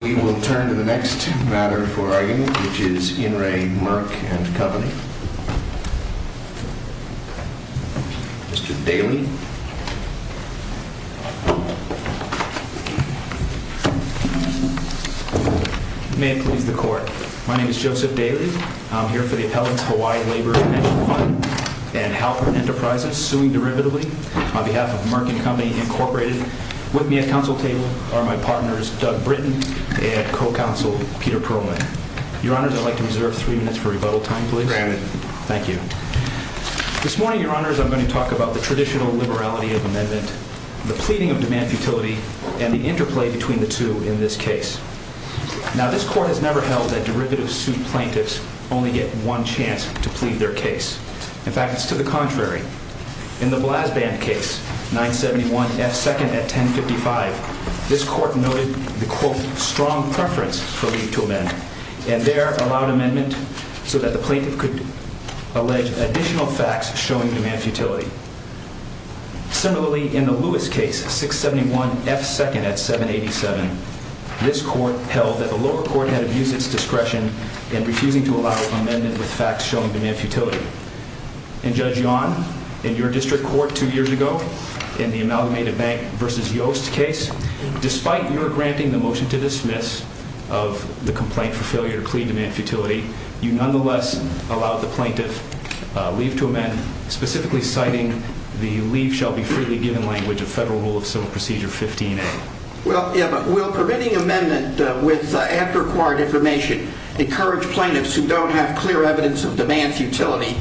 We will turn to the next matter for argument, which is In Re Merck&Co. Mr. Daly. May it please the court. My name is Joseph Daly. I'm here for the Appellant's Hawaii Labor Financial Fund and Halpert Enterprises, suing derivatively on behalf of Merck&Co. With me at counsel table are my partners Doug Britton and co-counsel Peter Perlman. Your honors, I'd like to reserve three minutes for rebuttal time, please. Granted. Thank you. This morning, your honors, I'm going to talk about the traditional liberality of amendment, the pleading of demand futility, and the interplay between the two in this case. Now, this court has never held that derivative suit plaintiffs only get one chance to plead their case. In fact, it's to the contrary. In the Blasband case, 971 F. 2nd at 1055, this court noted the, quote, strong preference for leave to amend, and there allowed amendment so that the plaintiff could allege additional facts showing demand futility. Similarly, in the Lewis case, 671 F. 2nd at 787, this court held that the lower court had abused its discretion in refusing to allow amendment with facts showing demand futility. And Judge Yawn, in your district court two years ago, in the Amalgamated Bank v. Yost case, despite your granting the motion to dismiss of the complaint for failure to plead demand futility, you nonetheless allowed the plaintiff leave to amend, specifically citing the leave shall be freely given language of Federal Rule of Civil Procedure 15a. Well, yeah, but will permitting amendment with ad-required information encourage plaintiffs who don't have clear evidence of demand futility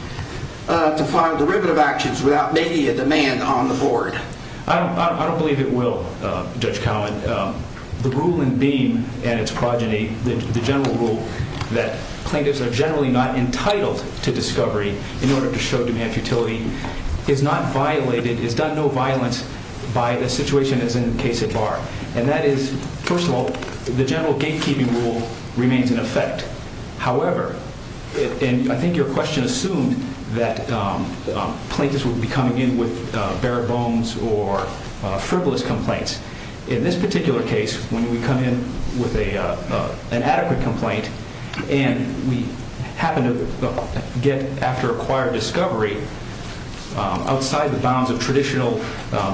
to file derivative actions without making a demand on the board? I don't believe it will, Judge Cowan. The rule in Beam and its progeny, the general rule that plaintiffs are generally not entitled to discovery in order to show demand futility, is not violated, and that is, first of all, the general gatekeeping rule remains in effect. However, and I think your question assumed that plaintiffs would be coming in with bare bones or frivolous complaints. In this particular case, when we come in with an adequate complaint and we happen to get, after acquired discovery, outside the bounds of traditional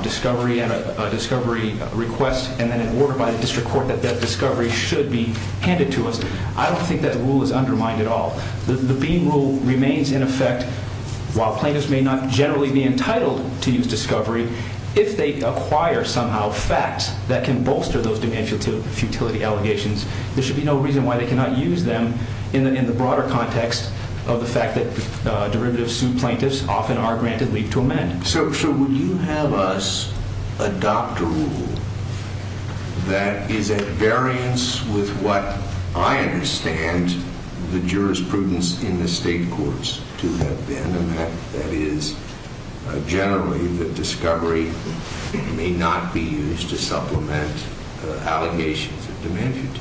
discovery and a discovery request and then an order by the district court that that discovery should be handed to us, I don't think that rule is undermined at all. The Beam rule remains in effect. While plaintiffs may not generally be entitled to use discovery, if they acquire somehow facts that can bolster those demand futility allegations, there should be no reason why they cannot use them in the broader context of the fact that derivatives suit plaintiffs often are granted leave to amend. So would you have us adopt a rule that is at variance with what I understand the jurisprudence in the state courts to have been, and that is generally that discovery may not be used to supplement allegations of demand futility?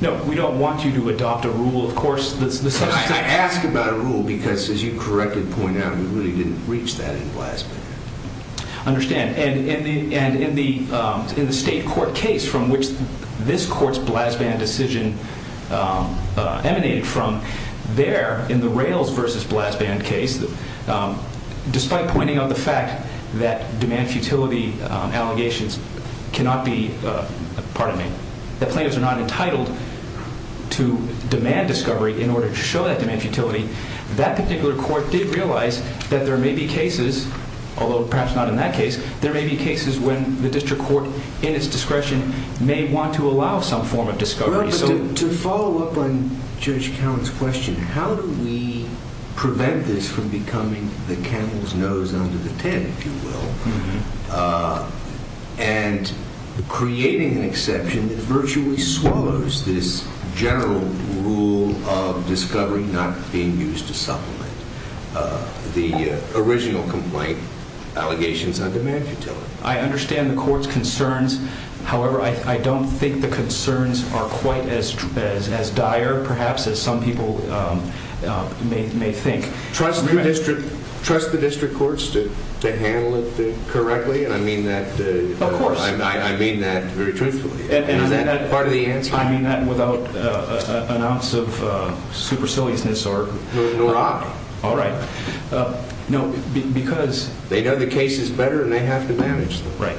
No, we don't want you to adopt a rule, of course. I ask about a rule because, as you correctly point out, we really didn't reach that in Blasband. I understand, and in the state court case from which this court's Blasband decision emanated from, there, in the Rails v. Blasband case, despite pointing out the fact that demand futility allegations cannot be, pardon me, that plaintiffs are not entitled to demand discovery in order to show that demand futility, that particular court did realize that there may be cases, although perhaps not in that case, there may be cases when the district court, in its discretion, may want to allow some form of discovery. To follow up on Judge Cowen's question, how do we prevent this from becoming the camel's nose under the tent, if you will, and creating an exception that virtually swallows this general rule of discovery not being used to supplement the original complaint allegations on demand futility? I understand the court's concerns. However, I don't think the concerns are quite as dire, perhaps, as some people may think. Trust the district courts to handle it correctly? Of course. I mean that very truthfully. Is that part of the answer? I mean that without an ounce of superciliousness, nor I. All right. No, because... They know the cases better and they have to manage them. Right.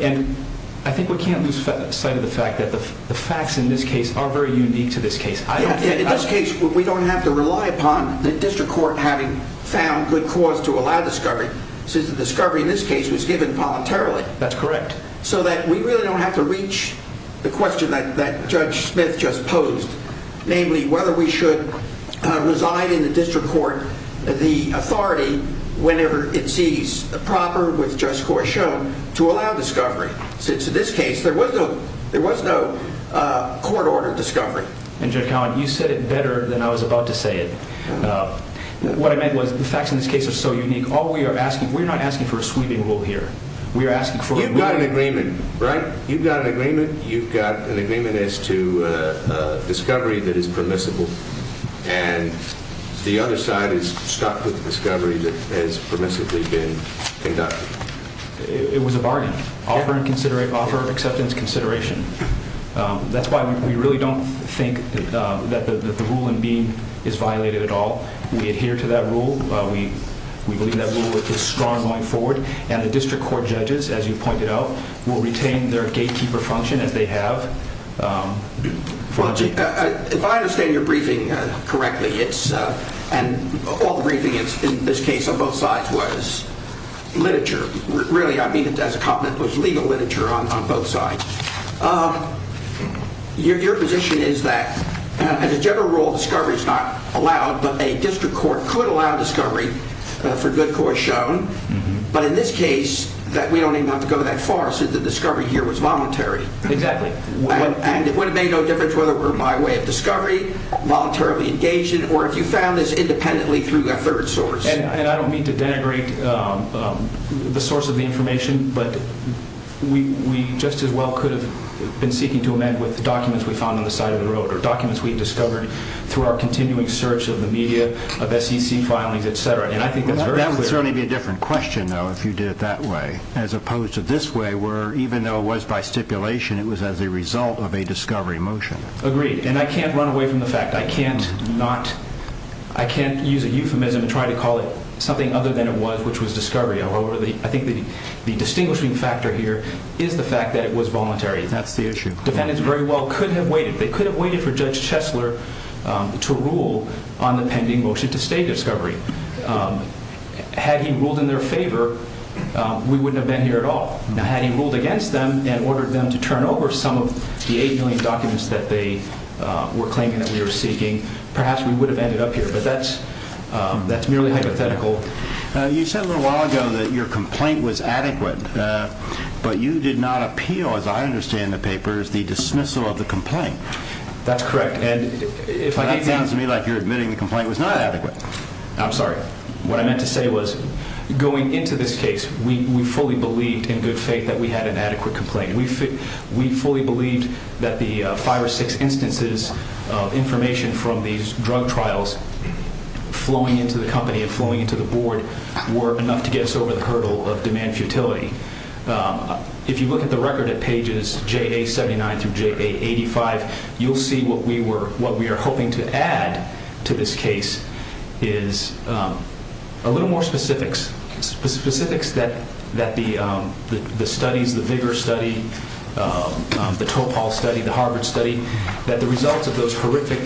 And I think we can't lose sight of the fact that the facts in this case are very unique to this case. In this case, we don't have to rely upon the district court having found good cause to allow discovery, since the discovery in this case was given voluntarily. That's correct. So that we really don't have to reach the question that Judge Smith just posed, namely whether we should reside in the district court the authority whenever it sees proper with just course shown to allow discovery, since in this case there was no court-ordered discovery. And, Judge Collin, you said it better than I was about to say it. What I meant was the facts in this case are so unique. We're not asking for a sweeping rule here. You've got an agreement, right? You've got an agreement. You've got an agreement as to discovery that is permissible, and the other side is stuck with discovery that has permissibly been conducted. It was a bargain. Offer acceptance consideration. That's why we really don't think that the rule in being is violated at all. We adhere to that rule. We believe that rule is strong going forward, and the district court judges, as you pointed out, will retain their gatekeeper function as they have. If I understand your briefing correctly, and all the briefing in this case on both sides was literature. Really, I mean it as a compliment, was legal literature on both sides. Your position is that, as a general rule, discovery is not allowed, but a district court could allow discovery for good cause shown. But in this case, we don't even have to go that far, since the discovery here was voluntary. Exactly. And it would have made no difference whether it were my way of discovery, voluntarily engaged in it, or if you found this independently through a third source. And I don't mean to denigrate the source of the information, but we just as well could have been seeking to amend with documents we found on the side of the road, or documents we discovered through our continuing search of the media, of SEC filings, et cetera. That would certainly be a different question, though, if you did it that way, as opposed to this way, where even though it was by stipulation, it was as a result of a discovery motion. Agreed. And I can't run away from the fact. I can't use a euphemism and try to call it something other than it was, which was discovery. However, I think the distinguishing factor here is the fact that it was voluntary. That's the issue. Defendants very well could have waited. They could have waited for Judge Chesler to rule on the pending motion to stay discovery. Had he ruled in their favor, we wouldn't have been here at all. Now, had he ruled against them and ordered them to turn over some of the 8 million documents that they were claiming that we were seeking, perhaps we would have ended up here. But that's merely hypothetical. You said a little while ago that your complaint was adequate, but you did not appeal, as I understand the papers, the dismissal of the complaint. That's correct. And that sounds to me like you're admitting the complaint was not adequate. I'm sorry. What I meant to say was going into this case, we fully believed in good faith that we had an adequate complaint. We fully believed that the five or six instances of information from these drug trials flowing into the company and flowing into the board were enough to get us over the hurdle of demand futility. If you look at the record at pages JA79 through JA85, you'll see what we are hoping to add to this case is a little more specifics, specifics that the studies, the VIGAR study, the Topol study, the Harvard study, that the results of those horrific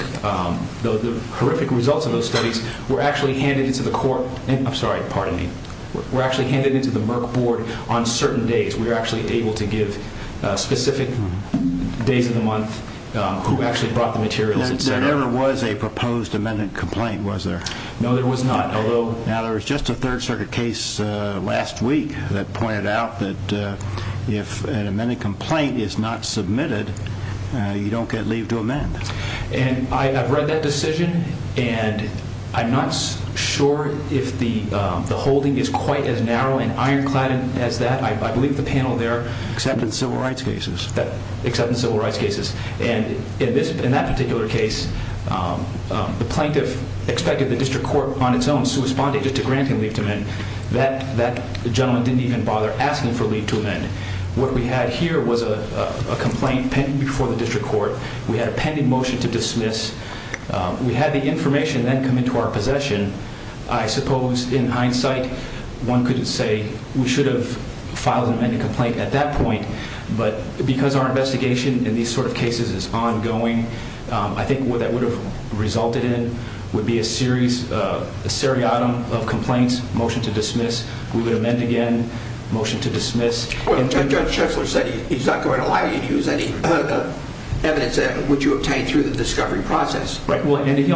results of those studies were actually handed into the court. I'm sorry. Pardon me. Were actually handed into the Merck board on certain days. We were actually able to give specific days of the month who actually brought the materials. There never was a proposed amendment complaint, was there? No, there was not. Now, there was just a Third Circuit case last week that pointed out that if an amendment complaint is not submitted, you don't get leave to amend. And I have read that decision and I'm not sure if the holding is quite as narrow and ironclad as that. I believe the panel there… Except in civil rights cases. Except in civil rights cases. And in that particular case, the plaintiff expected the district court on its own to respond to granting leave to amend. That gentleman didn't even bother asking for leave to amend. What we had here was a complaint pending before the district court. We had a pending motion to dismiss. We had the information then come into our possession. I suppose in hindsight, one could say we should have filed an amendment complaint at that point. But because our investigation in these sort of cases is ongoing, I think what that would have resulted in would be a series, a seriatim of complaints, motion to dismiss. We would amend again, motion to dismiss. Judge Schessler said he's not going to allow you to use any evidence that would you obtain through the discovery process. Right. And he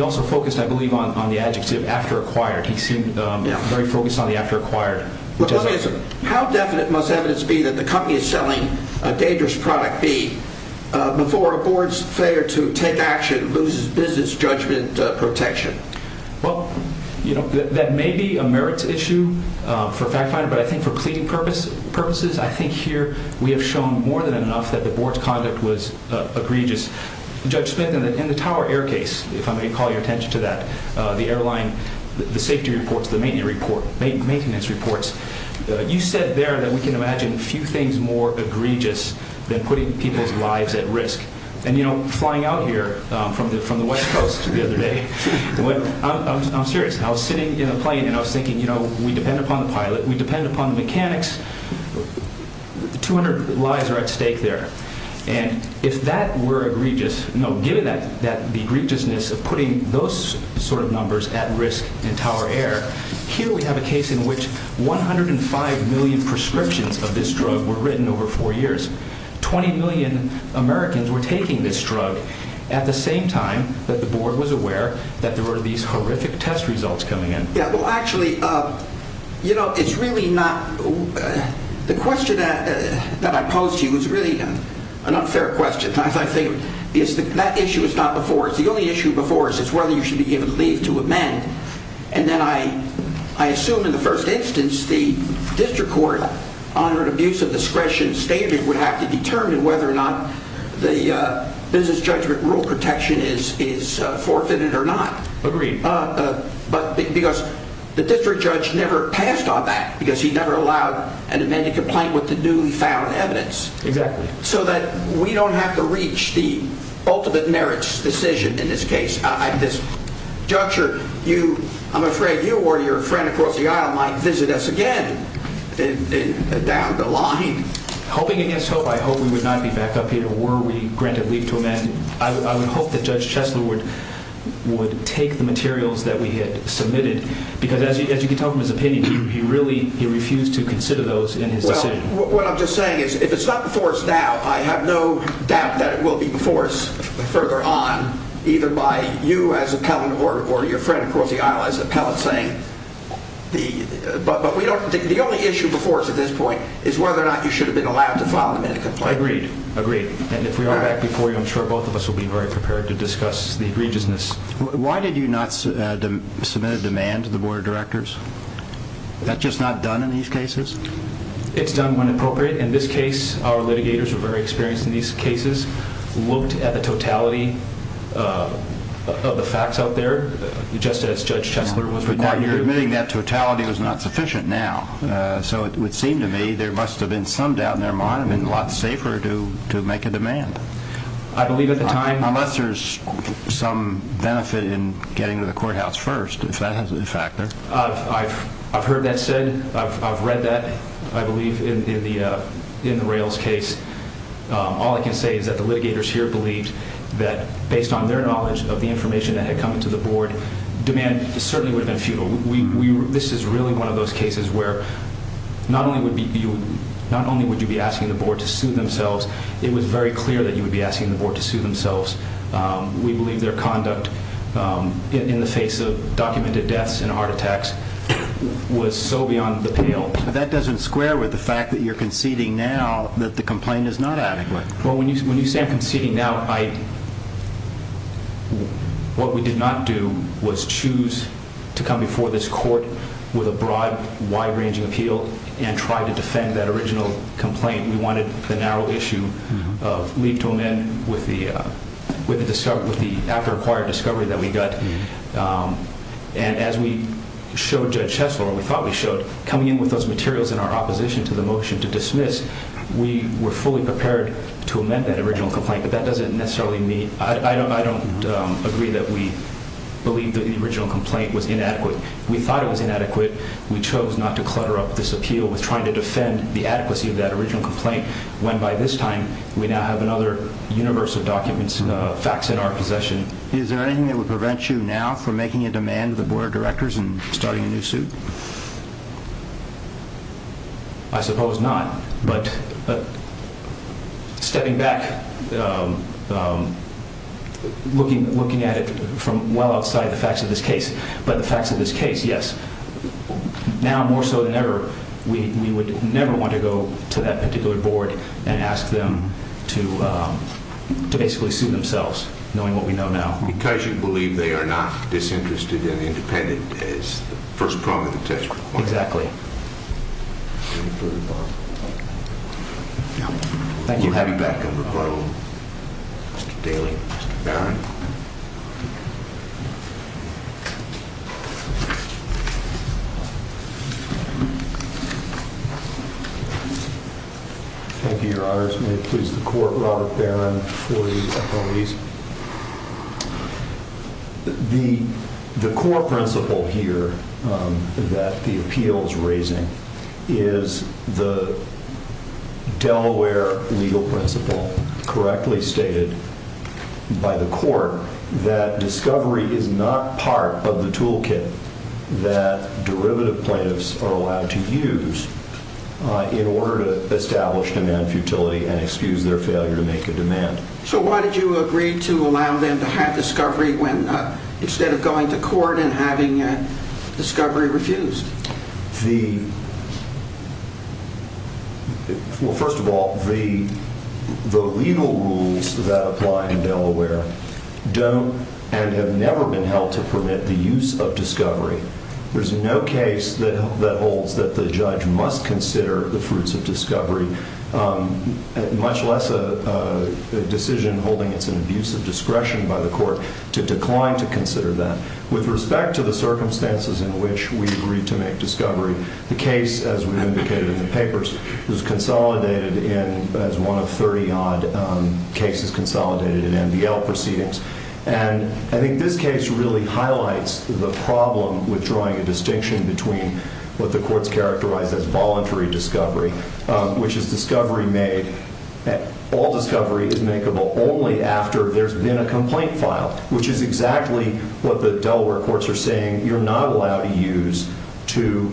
also focused, I believe, on the adjective after acquired. He seemed very focused on the after acquired. How definite must evidence be that the company is selling a dangerous product be before a board's failure to take action loses business judgment protection? Well, you know, that may be a merits issue for a fact finder, but I think for pleading purposes, I think here we have shown more than enough that the board's conduct was egregious. Judge Smith, in the Tower Air case, if I may call your attention to that, the airline, the safety reports, the maintenance reports, you said there that we can imagine few things more egregious than putting people's lives at risk. And, you know, flying out here from the West Coast the other day, I'm serious. I was sitting in a plane and I was thinking, you know, we depend upon the pilot. We depend upon the mechanics. Two hundred lives are at stake there. And if that were egregious, no, given that the egregiousness of putting those sort of numbers at risk in Tower Air, here we have a case in which one hundred and five million prescriptions of this drug were written over four years. Twenty million Americans were taking this drug at the same time that the board was aware that there were these horrific test results coming in. Yeah, well, actually, you know, it's really not the question that I posed to you is really an unfair question. I think that issue is not before us. The only issue before us is whether you should be given leave to amend. And then I assume in the first instance the district court on an abuse of discretion standard would have to determine whether or not the business judgment rule protection is forfeited or not. Agreed. But because the district judge never passed on that because he never allowed an amended complaint with the newly found evidence. Exactly. So that we don't have to reach the ultimate merits decision in this case. Judge, I'm afraid you or your friend across the aisle might visit us again down the line. Hoping against hope, I hope we would not be back up here were we granted leave to amend. I would hope that Judge Chesler would take the materials that we had submitted. Because as you can tell from his opinion, he really refused to consider those in his decision. What I'm just saying is if it's not before us now, I have no doubt that it will be before us further on, either by you as appellant or your friend across the aisle as appellant saying. But we don't think the only issue before us at this point is whether or not you should have been allowed to file an amended complaint. Agreed. Agreed. And if we are back before you, I'm sure both of us will be very prepared to discuss the egregiousness. Why did you not submit a demand to the board of directors? That's just not done in these cases? It's done when appropriate. In this case, our litigators were very experienced in these cases, looked at the totality of the facts out there, just as Judge Chesler was required to do. But now you're admitting that totality was not sufficient now. So it would seem to me there must have been some doubt in their mind. It would have been a lot safer to make a demand. I believe at the time... Unless there's some benefit in getting to the courthouse first, if that has a factor. I've heard that said. I've read that, I believe, in the Rails case. All I can say is that the litigators here believed that based on their knowledge of the information that had come to the board, demand certainly would have been futile. This is really one of those cases where not only would you be asking the board to sue themselves, it was very clear that you would be asking the board to sue themselves. We believe their conduct in the face of documented deaths and heart attacks was so beyond the pale. But that doesn't square with the fact that you're conceding now that the complaint is not adequate. When you say I'm conceding now, what we did not do was choose to come before this court with a broad, wide-ranging appeal and try to defend that original complaint. We wanted the narrow issue of leave to amend with the after-acquired discovery that we got. And as we showed Judge Hessler, or we thought we showed, coming in with those materials in our opposition to the motion to dismiss, we were fully prepared to amend that original complaint, but that doesn't necessarily mean I don't agree that we believe that the original complaint was inadequate. We thought it was inadequate. We chose not to clutter up this appeal with trying to defend the adequacy of that original complaint, when by this time we now have another universe of documents and facts in our possession. Is there anything that would prevent you now from making a demand to the board of directors and starting a new suit? I suppose not, but stepping back, looking at it from well outside the facts of this case, but the facts of this case, yes, now more so than ever, we would never want to go to that particular board and ask them to basically sue themselves, knowing what we know now. Because you believe they are not disinterested and independent, is the first prong of the test. Exactly. Thank you. We'll have you back on record, Mr. Daly, Mr. Barron. Thank you, Your Honor. May it please the Court, Robert Barron for the appellees. The core principle here that the appeal is raising is the Delaware legal principle, correctly stated by the Court, that discovery is not part of the toolkit that derivative plaintiffs are allowed to use in order to establish demand futility and excuse their failure to make a demand. So why did you agree to allow them to have discovery instead of going to court and having discovery refused? Well, first of all, the legal rules that apply in Delaware don't and have never been held to permit the use of discovery. There's no case that holds that the judge must consider the fruits of discovery, much less a decision holding it's an abuse of discretion by the court to decline to consider that. With respect to the circumstances in which we agreed to make discovery, the case, as we've indicated in the papers, is consolidated in, as one of 30-odd cases consolidated in MDL proceedings. And I think this case really highlights the problem with drawing a distinction between what the courts characterize as voluntary discovery, which is discovery made, all discovery is makeable only after there's been a complaint filed, which is exactly what the Delaware courts are saying you're not allowed to use to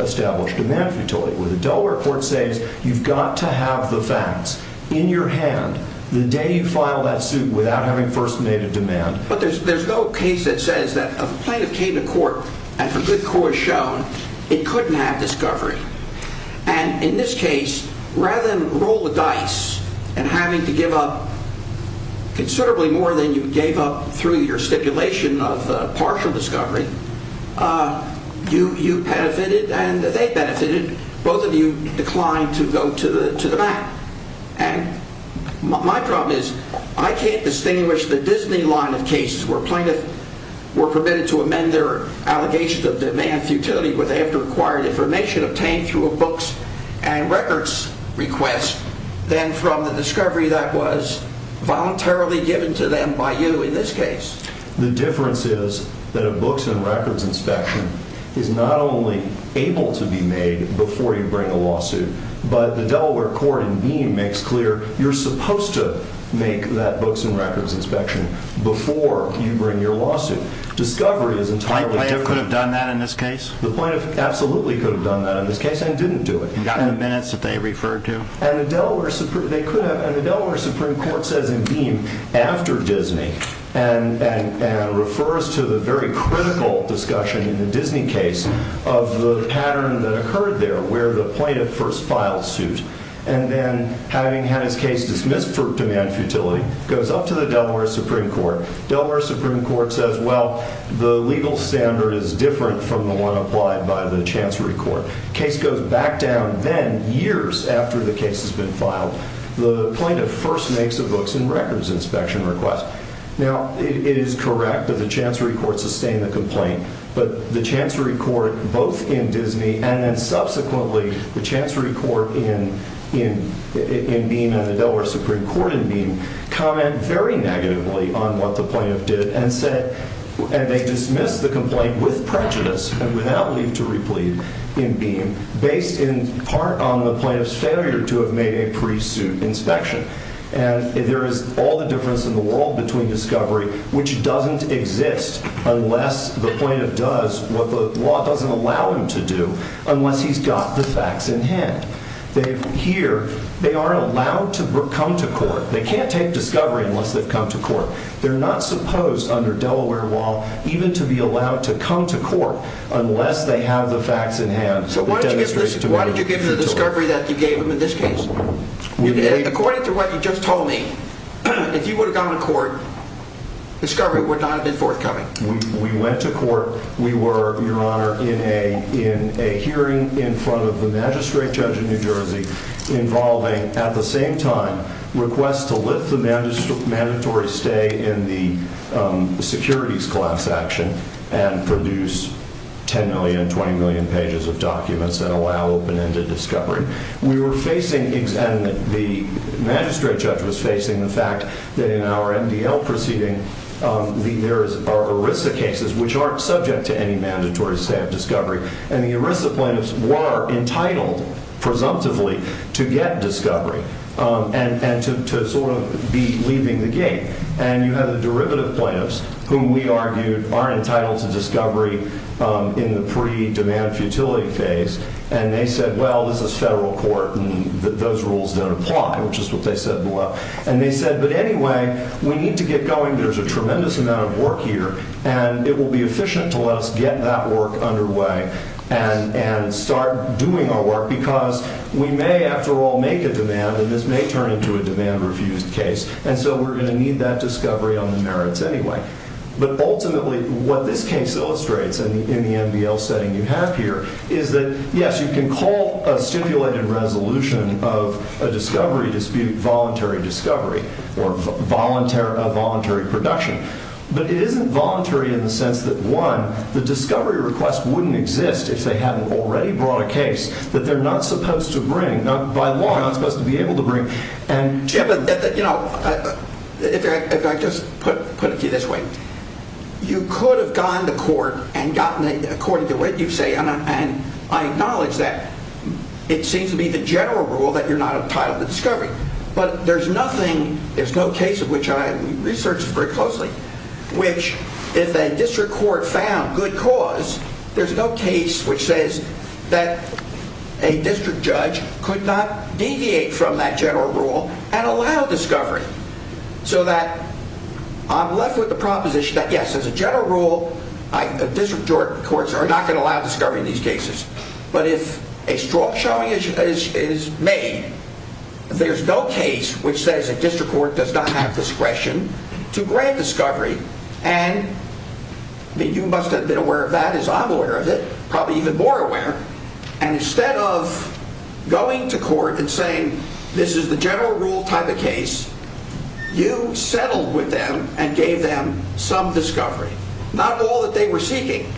establish demand futility. The Delaware court says you've got to have the facts in your hand the day you file that suit without having first made a demand. But there's no case that says that if a plaintiff came to court and for good cause shown, it couldn't have discovery. And in this case, rather than roll the dice and having to give up considerably more than you gave up through your stipulation of partial discovery, you benefited and they benefited, both of you declined to go to the mat. And my problem is I can't distinguish the Disney line of cases where plaintiffs were permitted to amend their allegations of demand futility where they have to acquire information obtained through a books and records request than from the discovery that was voluntarily given to them by you in this case. The difference is that a books and records inspection is not only able to be made before you bring a lawsuit, but the Delaware court in Beame makes clear you're supposed to make that books and records inspection before you bring your lawsuit. Discovery is entirely different. The plaintiff could have done that in this case? The plaintiff absolutely could have done that in this case and didn't do it. And gotten the minutes that they referred to? And the Delaware Supreme Court says in Beame, after Disney, and refers to the very critical discussion in the Disney case of the pattern that occurred there where the plaintiff first filed suit. And then having had his case dismissed for demand futility, goes up to the Delaware Supreme Court. Delaware Supreme Court says, well, the legal standard is different from the one applied by the Chancery Court. Case goes back down then, years after the case has been filed. The plaintiff first makes a books and records inspection request. Now, it is correct that the Chancery Court sustained the complaint. But the Chancery Court, both in Disney and then subsequently the Chancery Court in Beame and the Delaware Supreme Court in Beame, comment very negatively on what the plaintiff did and said, and they dismissed the complaint with prejudice and without leave to replead in Beame, based in part on the plaintiff's failure to have made a pre-suit inspection. And there is all the difference in the world between discovery, which doesn't exist unless the plaintiff does what the law doesn't allow him to do, unless he's got the facts in hand. Here, they aren't allowed to come to court. They can't take discovery unless they've come to court. They're not supposed, under Delaware law, even to be allowed to come to court unless they have the facts in hand. So why did you give them the discovery that you gave them in this case? According to what you just told me, if you would have gone to court, discovery would not have been forthcoming. We went to court. We were, Your Honor, in a hearing in front of the magistrate judge in New Jersey involving, at the same time, requests to lift the mandatory stay in the securities class action and produce 10 million, 20 million pages of documents that allow open-ended discovery. We were facing, and the magistrate judge was facing the fact that in our MDL proceeding, there are ERISA cases which aren't subject to any mandatory stay of discovery, and the ERISA plaintiffs were entitled, presumptively, to get discovery and to sort of be leaving the gate. And you have the derivative plaintiffs, whom we argued are entitled to discovery in the pre-demand futility phase, and they said, well, this is federal court, and those rules don't apply, which is what they said below. And they said, but anyway, we need to get going. There's a tremendous amount of work here, and it will be efficient to let us get that work underway and start doing our work because we may, after all, make a demand, and this may turn into a demand-refused case. And so we're going to need that discovery on the merits anyway. But ultimately, what this case illustrates in the MDL setting you have here is that, yes, you can call a stipulated resolution of a discovery dispute voluntary discovery or a voluntary production, but it isn't voluntary in the sense that, one, the discovery request wouldn't exist if they hadn't already brought a case that they're not supposed to bring, by law, not supposed to be able to bring, and... Yeah, but, you know, if I just put it to you this way, you could have gone to court and gotten it according to what you say, and I acknowledge that. It seems to be the general rule that you're not entitled to discovery. But there's nothing, there's no case of which I have researched very closely, which, if a district court found good cause, there's no case which says that a district judge could not deviate from that general rule and allow discovery. So that I'm left with the proposition that, yes, as a general rule, district courts are not going to allow discovery in these cases. But if a strong showing is made, there's no case which says a district court does not have discretion to grant discovery, and you must have been aware of that, as I'm aware of it, probably even more aware, and instead of going to court and saying, this is the general rule type of case, you settled with them and gave them some discovery, not all that they were seeking.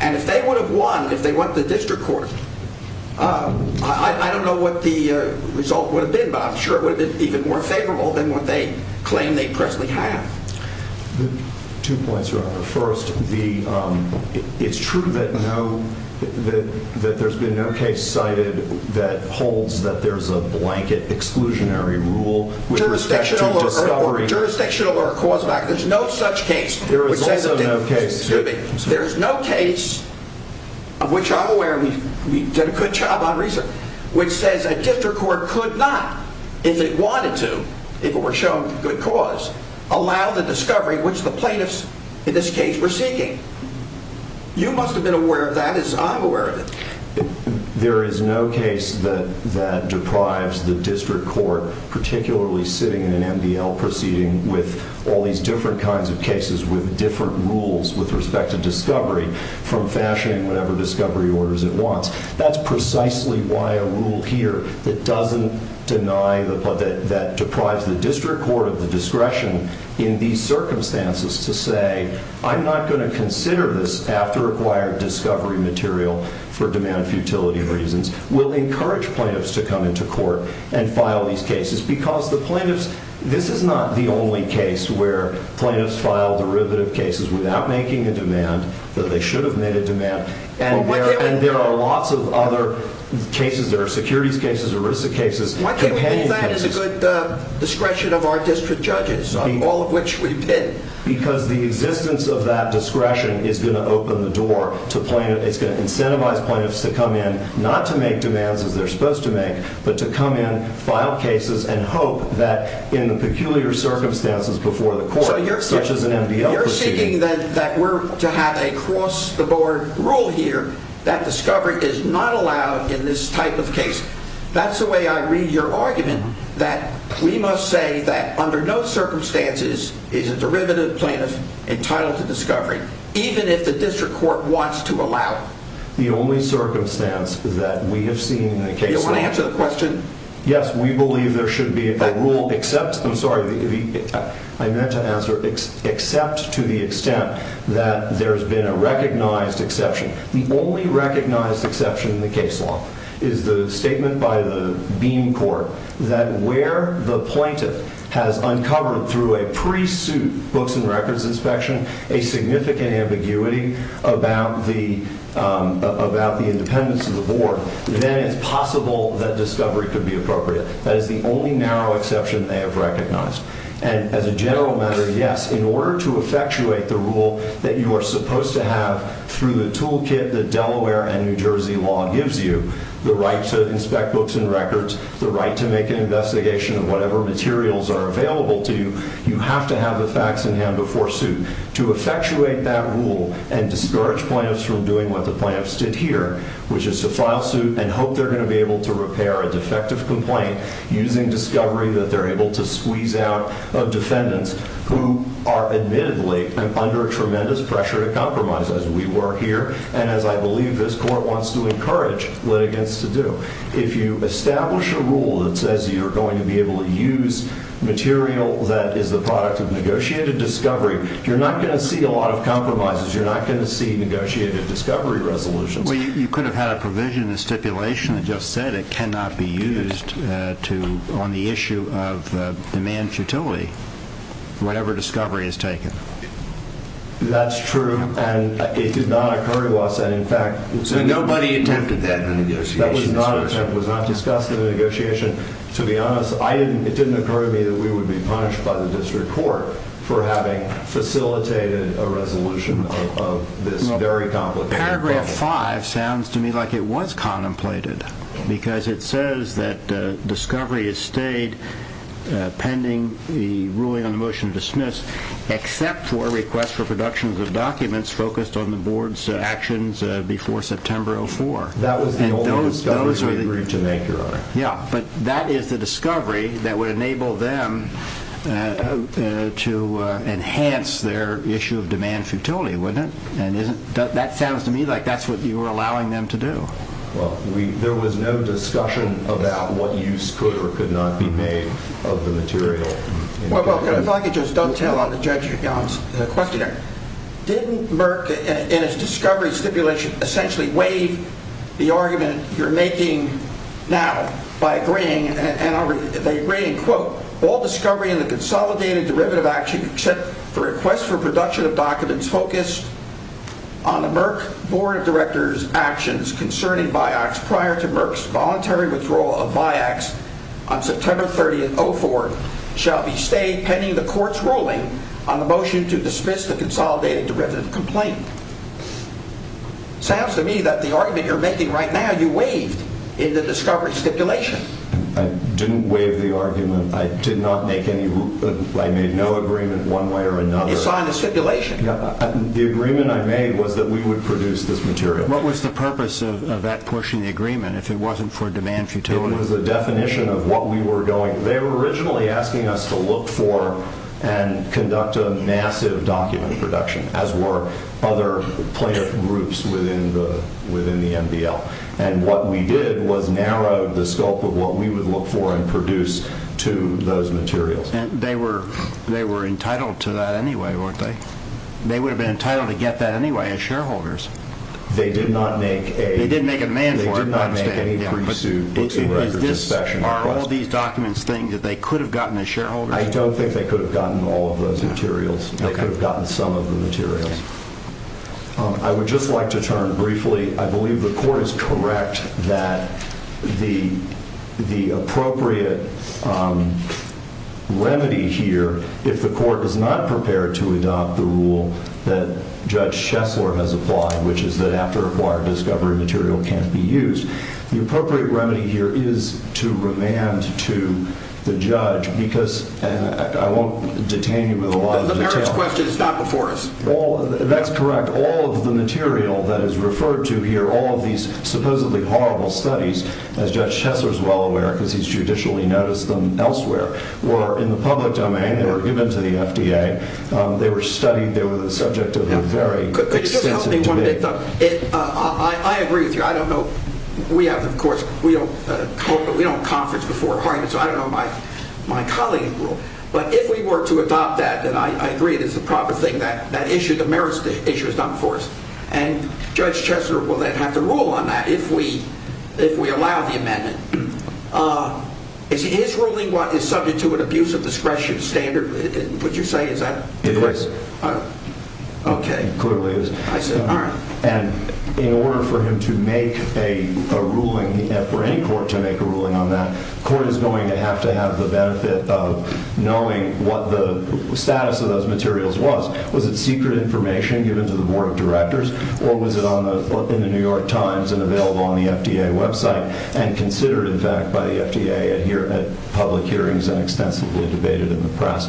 And if they would have won, if they went to the district court, I don't know what the result would have been, but I'm sure it would have been even more favorable than what they claim they personally have. Two points here. First, it's true that there's been no case cited that holds that there's a blanket exclusionary rule jurisdictional or cause-back. There's no such case. There is also no case. There is no case of which I'm aware, and we did a good job on research, which says a district court could not, if it wanted to, if it were shown good cause, allow the discovery which the plaintiffs, in this case, were seeking. You must have been aware of that, as I'm aware of it. There is no case that deprives the district court, particularly sitting in an MBL proceeding with all these different kinds of cases with different rules with respect to discovery, from fashioning whatever discovery orders it wants. That's precisely why a rule here that doesn't deny, that deprives the district court of the discretion in these circumstances to say, I'm not going to consider this after-acquired discovery material for demand-futility reasons, will encourage plaintiffs to come into court and file these cases. Because the plaintiffs, this is not the only case where plaintiffs file derivative cases without making a demand, though they should have made a demand. And there are lots of other cases. There are securities cases, arrested cases. Why can't we use that as a good discretion of our district judges, all of which we've been? Because the existence of that discretion is going to open the door. It's going to incentivize plaintiffs to come in, not to make demands as they're supposed to make, but to come in, file cases, and hope that in the peculiar circumstances before the court, such as an MBL proceeding. So you're seeking that we're to have a cross-the-board rule here that discovery is not allowed in this type of case. That's the way I read your argument, that we must say that under no circumstances is a derivative plaintiff entitled to discovery, even if the district court wants to allow it. The only circumstance that we have seen in the case law... Do you want to answer the question? Yes, we believe there should be a rule except, I'm sorry, I meant to answer, except to the extent that there's been a recognized exception. The only recognized exception in the case law is the statement by the beam court that where the plaintiff has uncovered through a pre-suit books and records inspection a significant ambiguity about the independence of the board, then it's possible that discovery could be appropriate. That is the only narrow exception they have recognized. And as a general matter, yes, in order to effectuate the rule that you are supposed to have through the toolkit that Delaware and New Jersey law gives you, the right to inspect books and records, the right to make an investigation of whatever materials are available to you, you have to have the facts in hand before suit. To effectuate that rule and discourage plaintiffs from doing what the plaintiffs did here, which is to file suit and hope they're going to be able to repair a defective complaint using discovery that they're able to squeeze out of defendants who are admittedly under tremendous pressure to compromise, as we were here, and as I believe this court wants to encourage litigants to do. If you establish a rule that says you're going to be able to use material that is the product of negotiated discovery, you're not going to see a lot of compromises. You're not going to see negotiated discovery resolutions. Well, you could have had a provision in the stipulation that just said it cannot be used on the issue of demand futility, whatever discovery is taken. That's true, and it did not occur to us that, in fact... So nobody attempted that negotiation? That was not discussed in the negotiation. To be honest, it didn't occur to me that we would be punished by the district court for having facilitated a resolution of this very complicated problem. Paragraph 5 sounds to me like it was contemplated, because it says that discovery has stayed pending the ruling on the motion to dismiss except for a request for production of documents focused on the board's actions before September 04. That was the only discovery we agreed to make, Your Honor. Yeah, but that is the discovery that would enable them to enhance their issue of demand futility, wouldn't it? That sounds to me like that's what you were allowing them to do. Well, there was no discussion about what use could or could not be made of the material. Well, if I could just dovetail on Judge Young's question. Didn't Merck, in its discovery stipulation, essentially waive the argument you're making now by agreeing, and they agree in quote, all discovery in the consolidated derivative action except for a request for production of documents focused on the Merck Board of Directors' actions concerning BIACS prior to Merck's voluntary withdrawal of BIACS on September 30, 04, shall be stayed pending the court's ruling on the motion to dismiss the consolidated derivative complaint. Sounds to me that the argument you're making right now, you waived in the discovery stipulation. I didn't waive the argument. I made no agreement one way or another. You signed the stipulation. The agreement I made was that we would produce this material. What was the purpose of that pushing the agreement if it wasn't for demand futility? It was a definition of what we were doing. They were originally asking us to look for and conduct a massive document production, as were other player groups within the MDL. And what we did was narrow the scope of what we would look for and produce to those materials. They were entitled to that anyway, weren't they? They would have been entitled to get that anyway as shareholders. They did not make a demand for it. They did not make any pursuit. Are all these documents things that they could have gotten as shareholders? I don't think they could have gotten all of those materials. They could have gotten some of the materials. I would just like to turn briefly. I believe the court is correct that the appropriate remedy here, if the court is not prepared to adopt the rule that Judge Schessler has applied, which is that after acquired discovery material can't be used, the appropriate remedy here is to remand to the judge because I won't detain you with a lot of detail. The merits question is not before us. That's correct. After all of the material that is referred to here, all of these supposedly horrible studies, as Judge Schessler is well aware because he's judicially noticed them elsewhere, were in the public domain. They were given to the FDA. They were studied. They were the subject of a very extensive debate. Could you just help me one minute? I agree with you. I don't know. We have, of course, we don't conference before arguments. So I don't know my colleague's rule. But if we were to adopt that, then I agree it is the proper thing. That issue, the merits issue is not before us. And Judge Schessler will then have to rule on that if we allow the amendment. Is his ruling subject to an abuse of discretion standard? Would you say? Is that correct? It is. Okay. It clearly is. I see. All right. And in order for him to make a ruling, for any court to make a ruling on that, the court is going to have to have the benefit of knowing what the status of those materials was. Was it secret information given to the board of directors? Or was it in the New York Times and available on the FDA website and considered, in fact, by the FDA at public hearings and extensively debated in the press?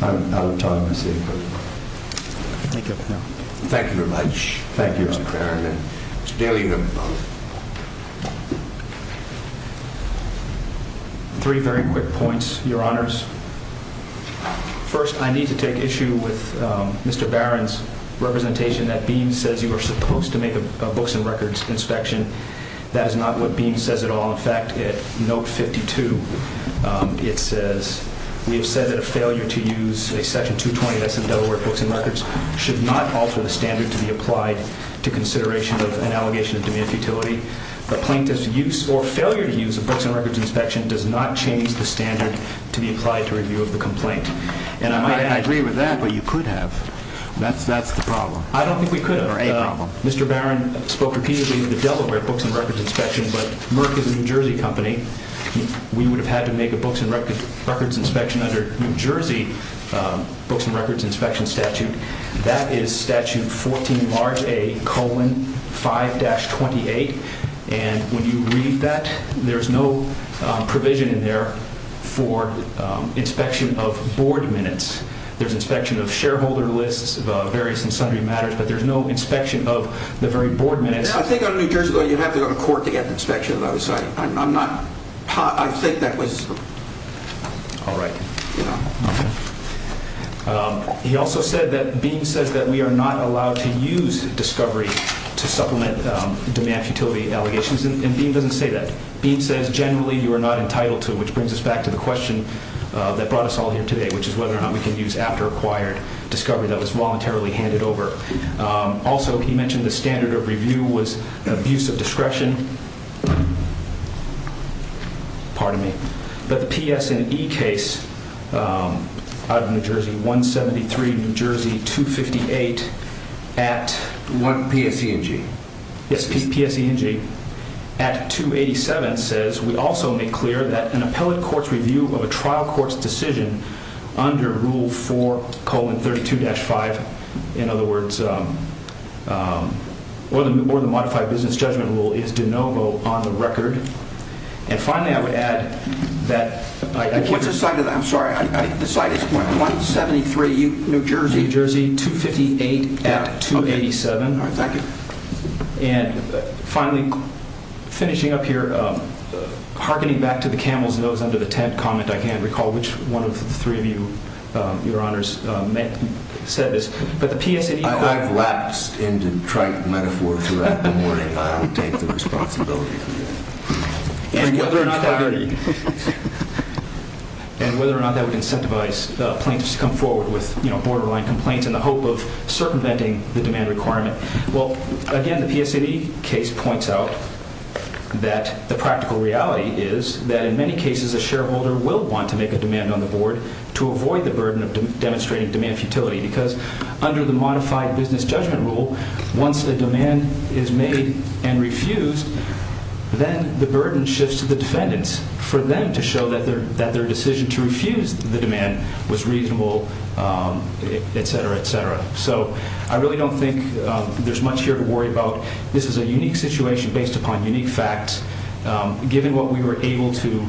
I'm out of time. I see. Thank you. Thank you very much. Thank you, Mr. Farriman. Mr. Bailie, you have the floor. Three very quick points, Your Honors. First, I need to take issue with Mr. Barron's representation that Beam says you were supposed to make a books and records inspection. That is not what Beam says at all. In fact, at Note 52, it says we have said that a failure to use a Section 220 of this in the Delaware Books and Records should not alter the standard to be applied to consideration of an allegation of demeaned futility. A plaintiff's use or failure to use a books and records inspection does not change the standard to be applied to review of the complaint. I agree with that, but you could have. That's the problem. I don't think we could have. Or a problem. Mr. Barron spoke repeatedly of the Delaware Books and Records Inspection, but Merck is a New Jersey company. We would have had to make a books and records inspection under New Jersey Books and Records Inspection Statute. That is Statute 14 large A colon 5-28. And when you read that, there's no provision in there for inspection of board minutes. There's inspection of shareholder lists, various and sundry matters, but there's no inspection of the very board minutes. I think under New Jersey, though, you'd have to go to court to get an inspection. I think that was... All right. He also said that Beam says that we are not allowed to use discovery to supplement demand futility allegations. And Beam doesn't say that. Beam says generally you are not entitled to, which brings us back to the question that brought us all here today, which is whether or not we can use after acquired discovery that was voluntarily handed over. Also, he mentioned the standard of review was abuse of discretion. Pardon me. But the PS&E case out of New Jersey 173, New Jersey 258 at... PSENG. Yes, PSENG. At 287 says we also make clear that an appellate court's review of a trial court's decision under Rule 4 colon 32-5, in other words, or the modified business judgment rule is de novo on the record. And finally, I would add that... What's the site of that? I'm sorry. The site is 173, New Jersey. New Jersey 258 at 287. All right. Thank you. And finally, finishing up here, hearkening back to the camel's nose under the tent comment, I can't recall which one of the three of you, Your Honors, said this, but the PS&E... I've lapsed into trite metaphor throughout the morning. I don't take the responsibility for that. And whether or not that would incentivize plaintiffs to come forward with borderline complaints in the hope of circumventing the demand requirement. Well, again, the PS&E case points out that the practical reality is that in many cases, a shareholder will want to make a demand on the board to avoid the burden of demonstrating demand futility because under the modified business judgment rule, once a demand is made and refused, then the burden shifts to the defendants for them to show that their decision to refuse the demand was reasonable, etc., etc. So I really don't think there's much here to worry about. This is a unique situation based upon unique facts. Given what we were able to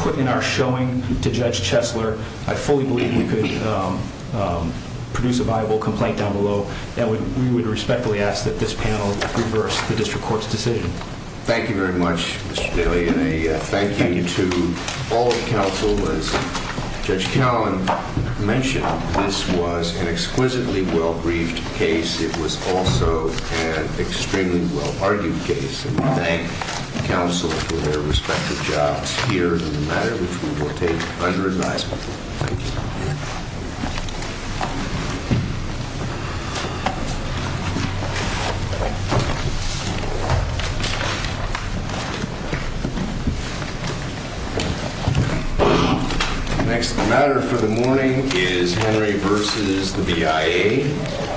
put in our showing to Judge Chesler, I fully believe we could produce a viable complaint down below, and we would respectfully ask that this panel reverse the district court's decision. Thank you very much, Mr. Bailey, and a thank you to all of the counsel. As Judge Callin mentioned, this was an exquisitely well-briefed case. It was also an extremely well-argued case. And we thank counsel for their respective jobs here in the matter, which we will take under advisement. Thank you. The next matter for the morning is Henry v. the BIA.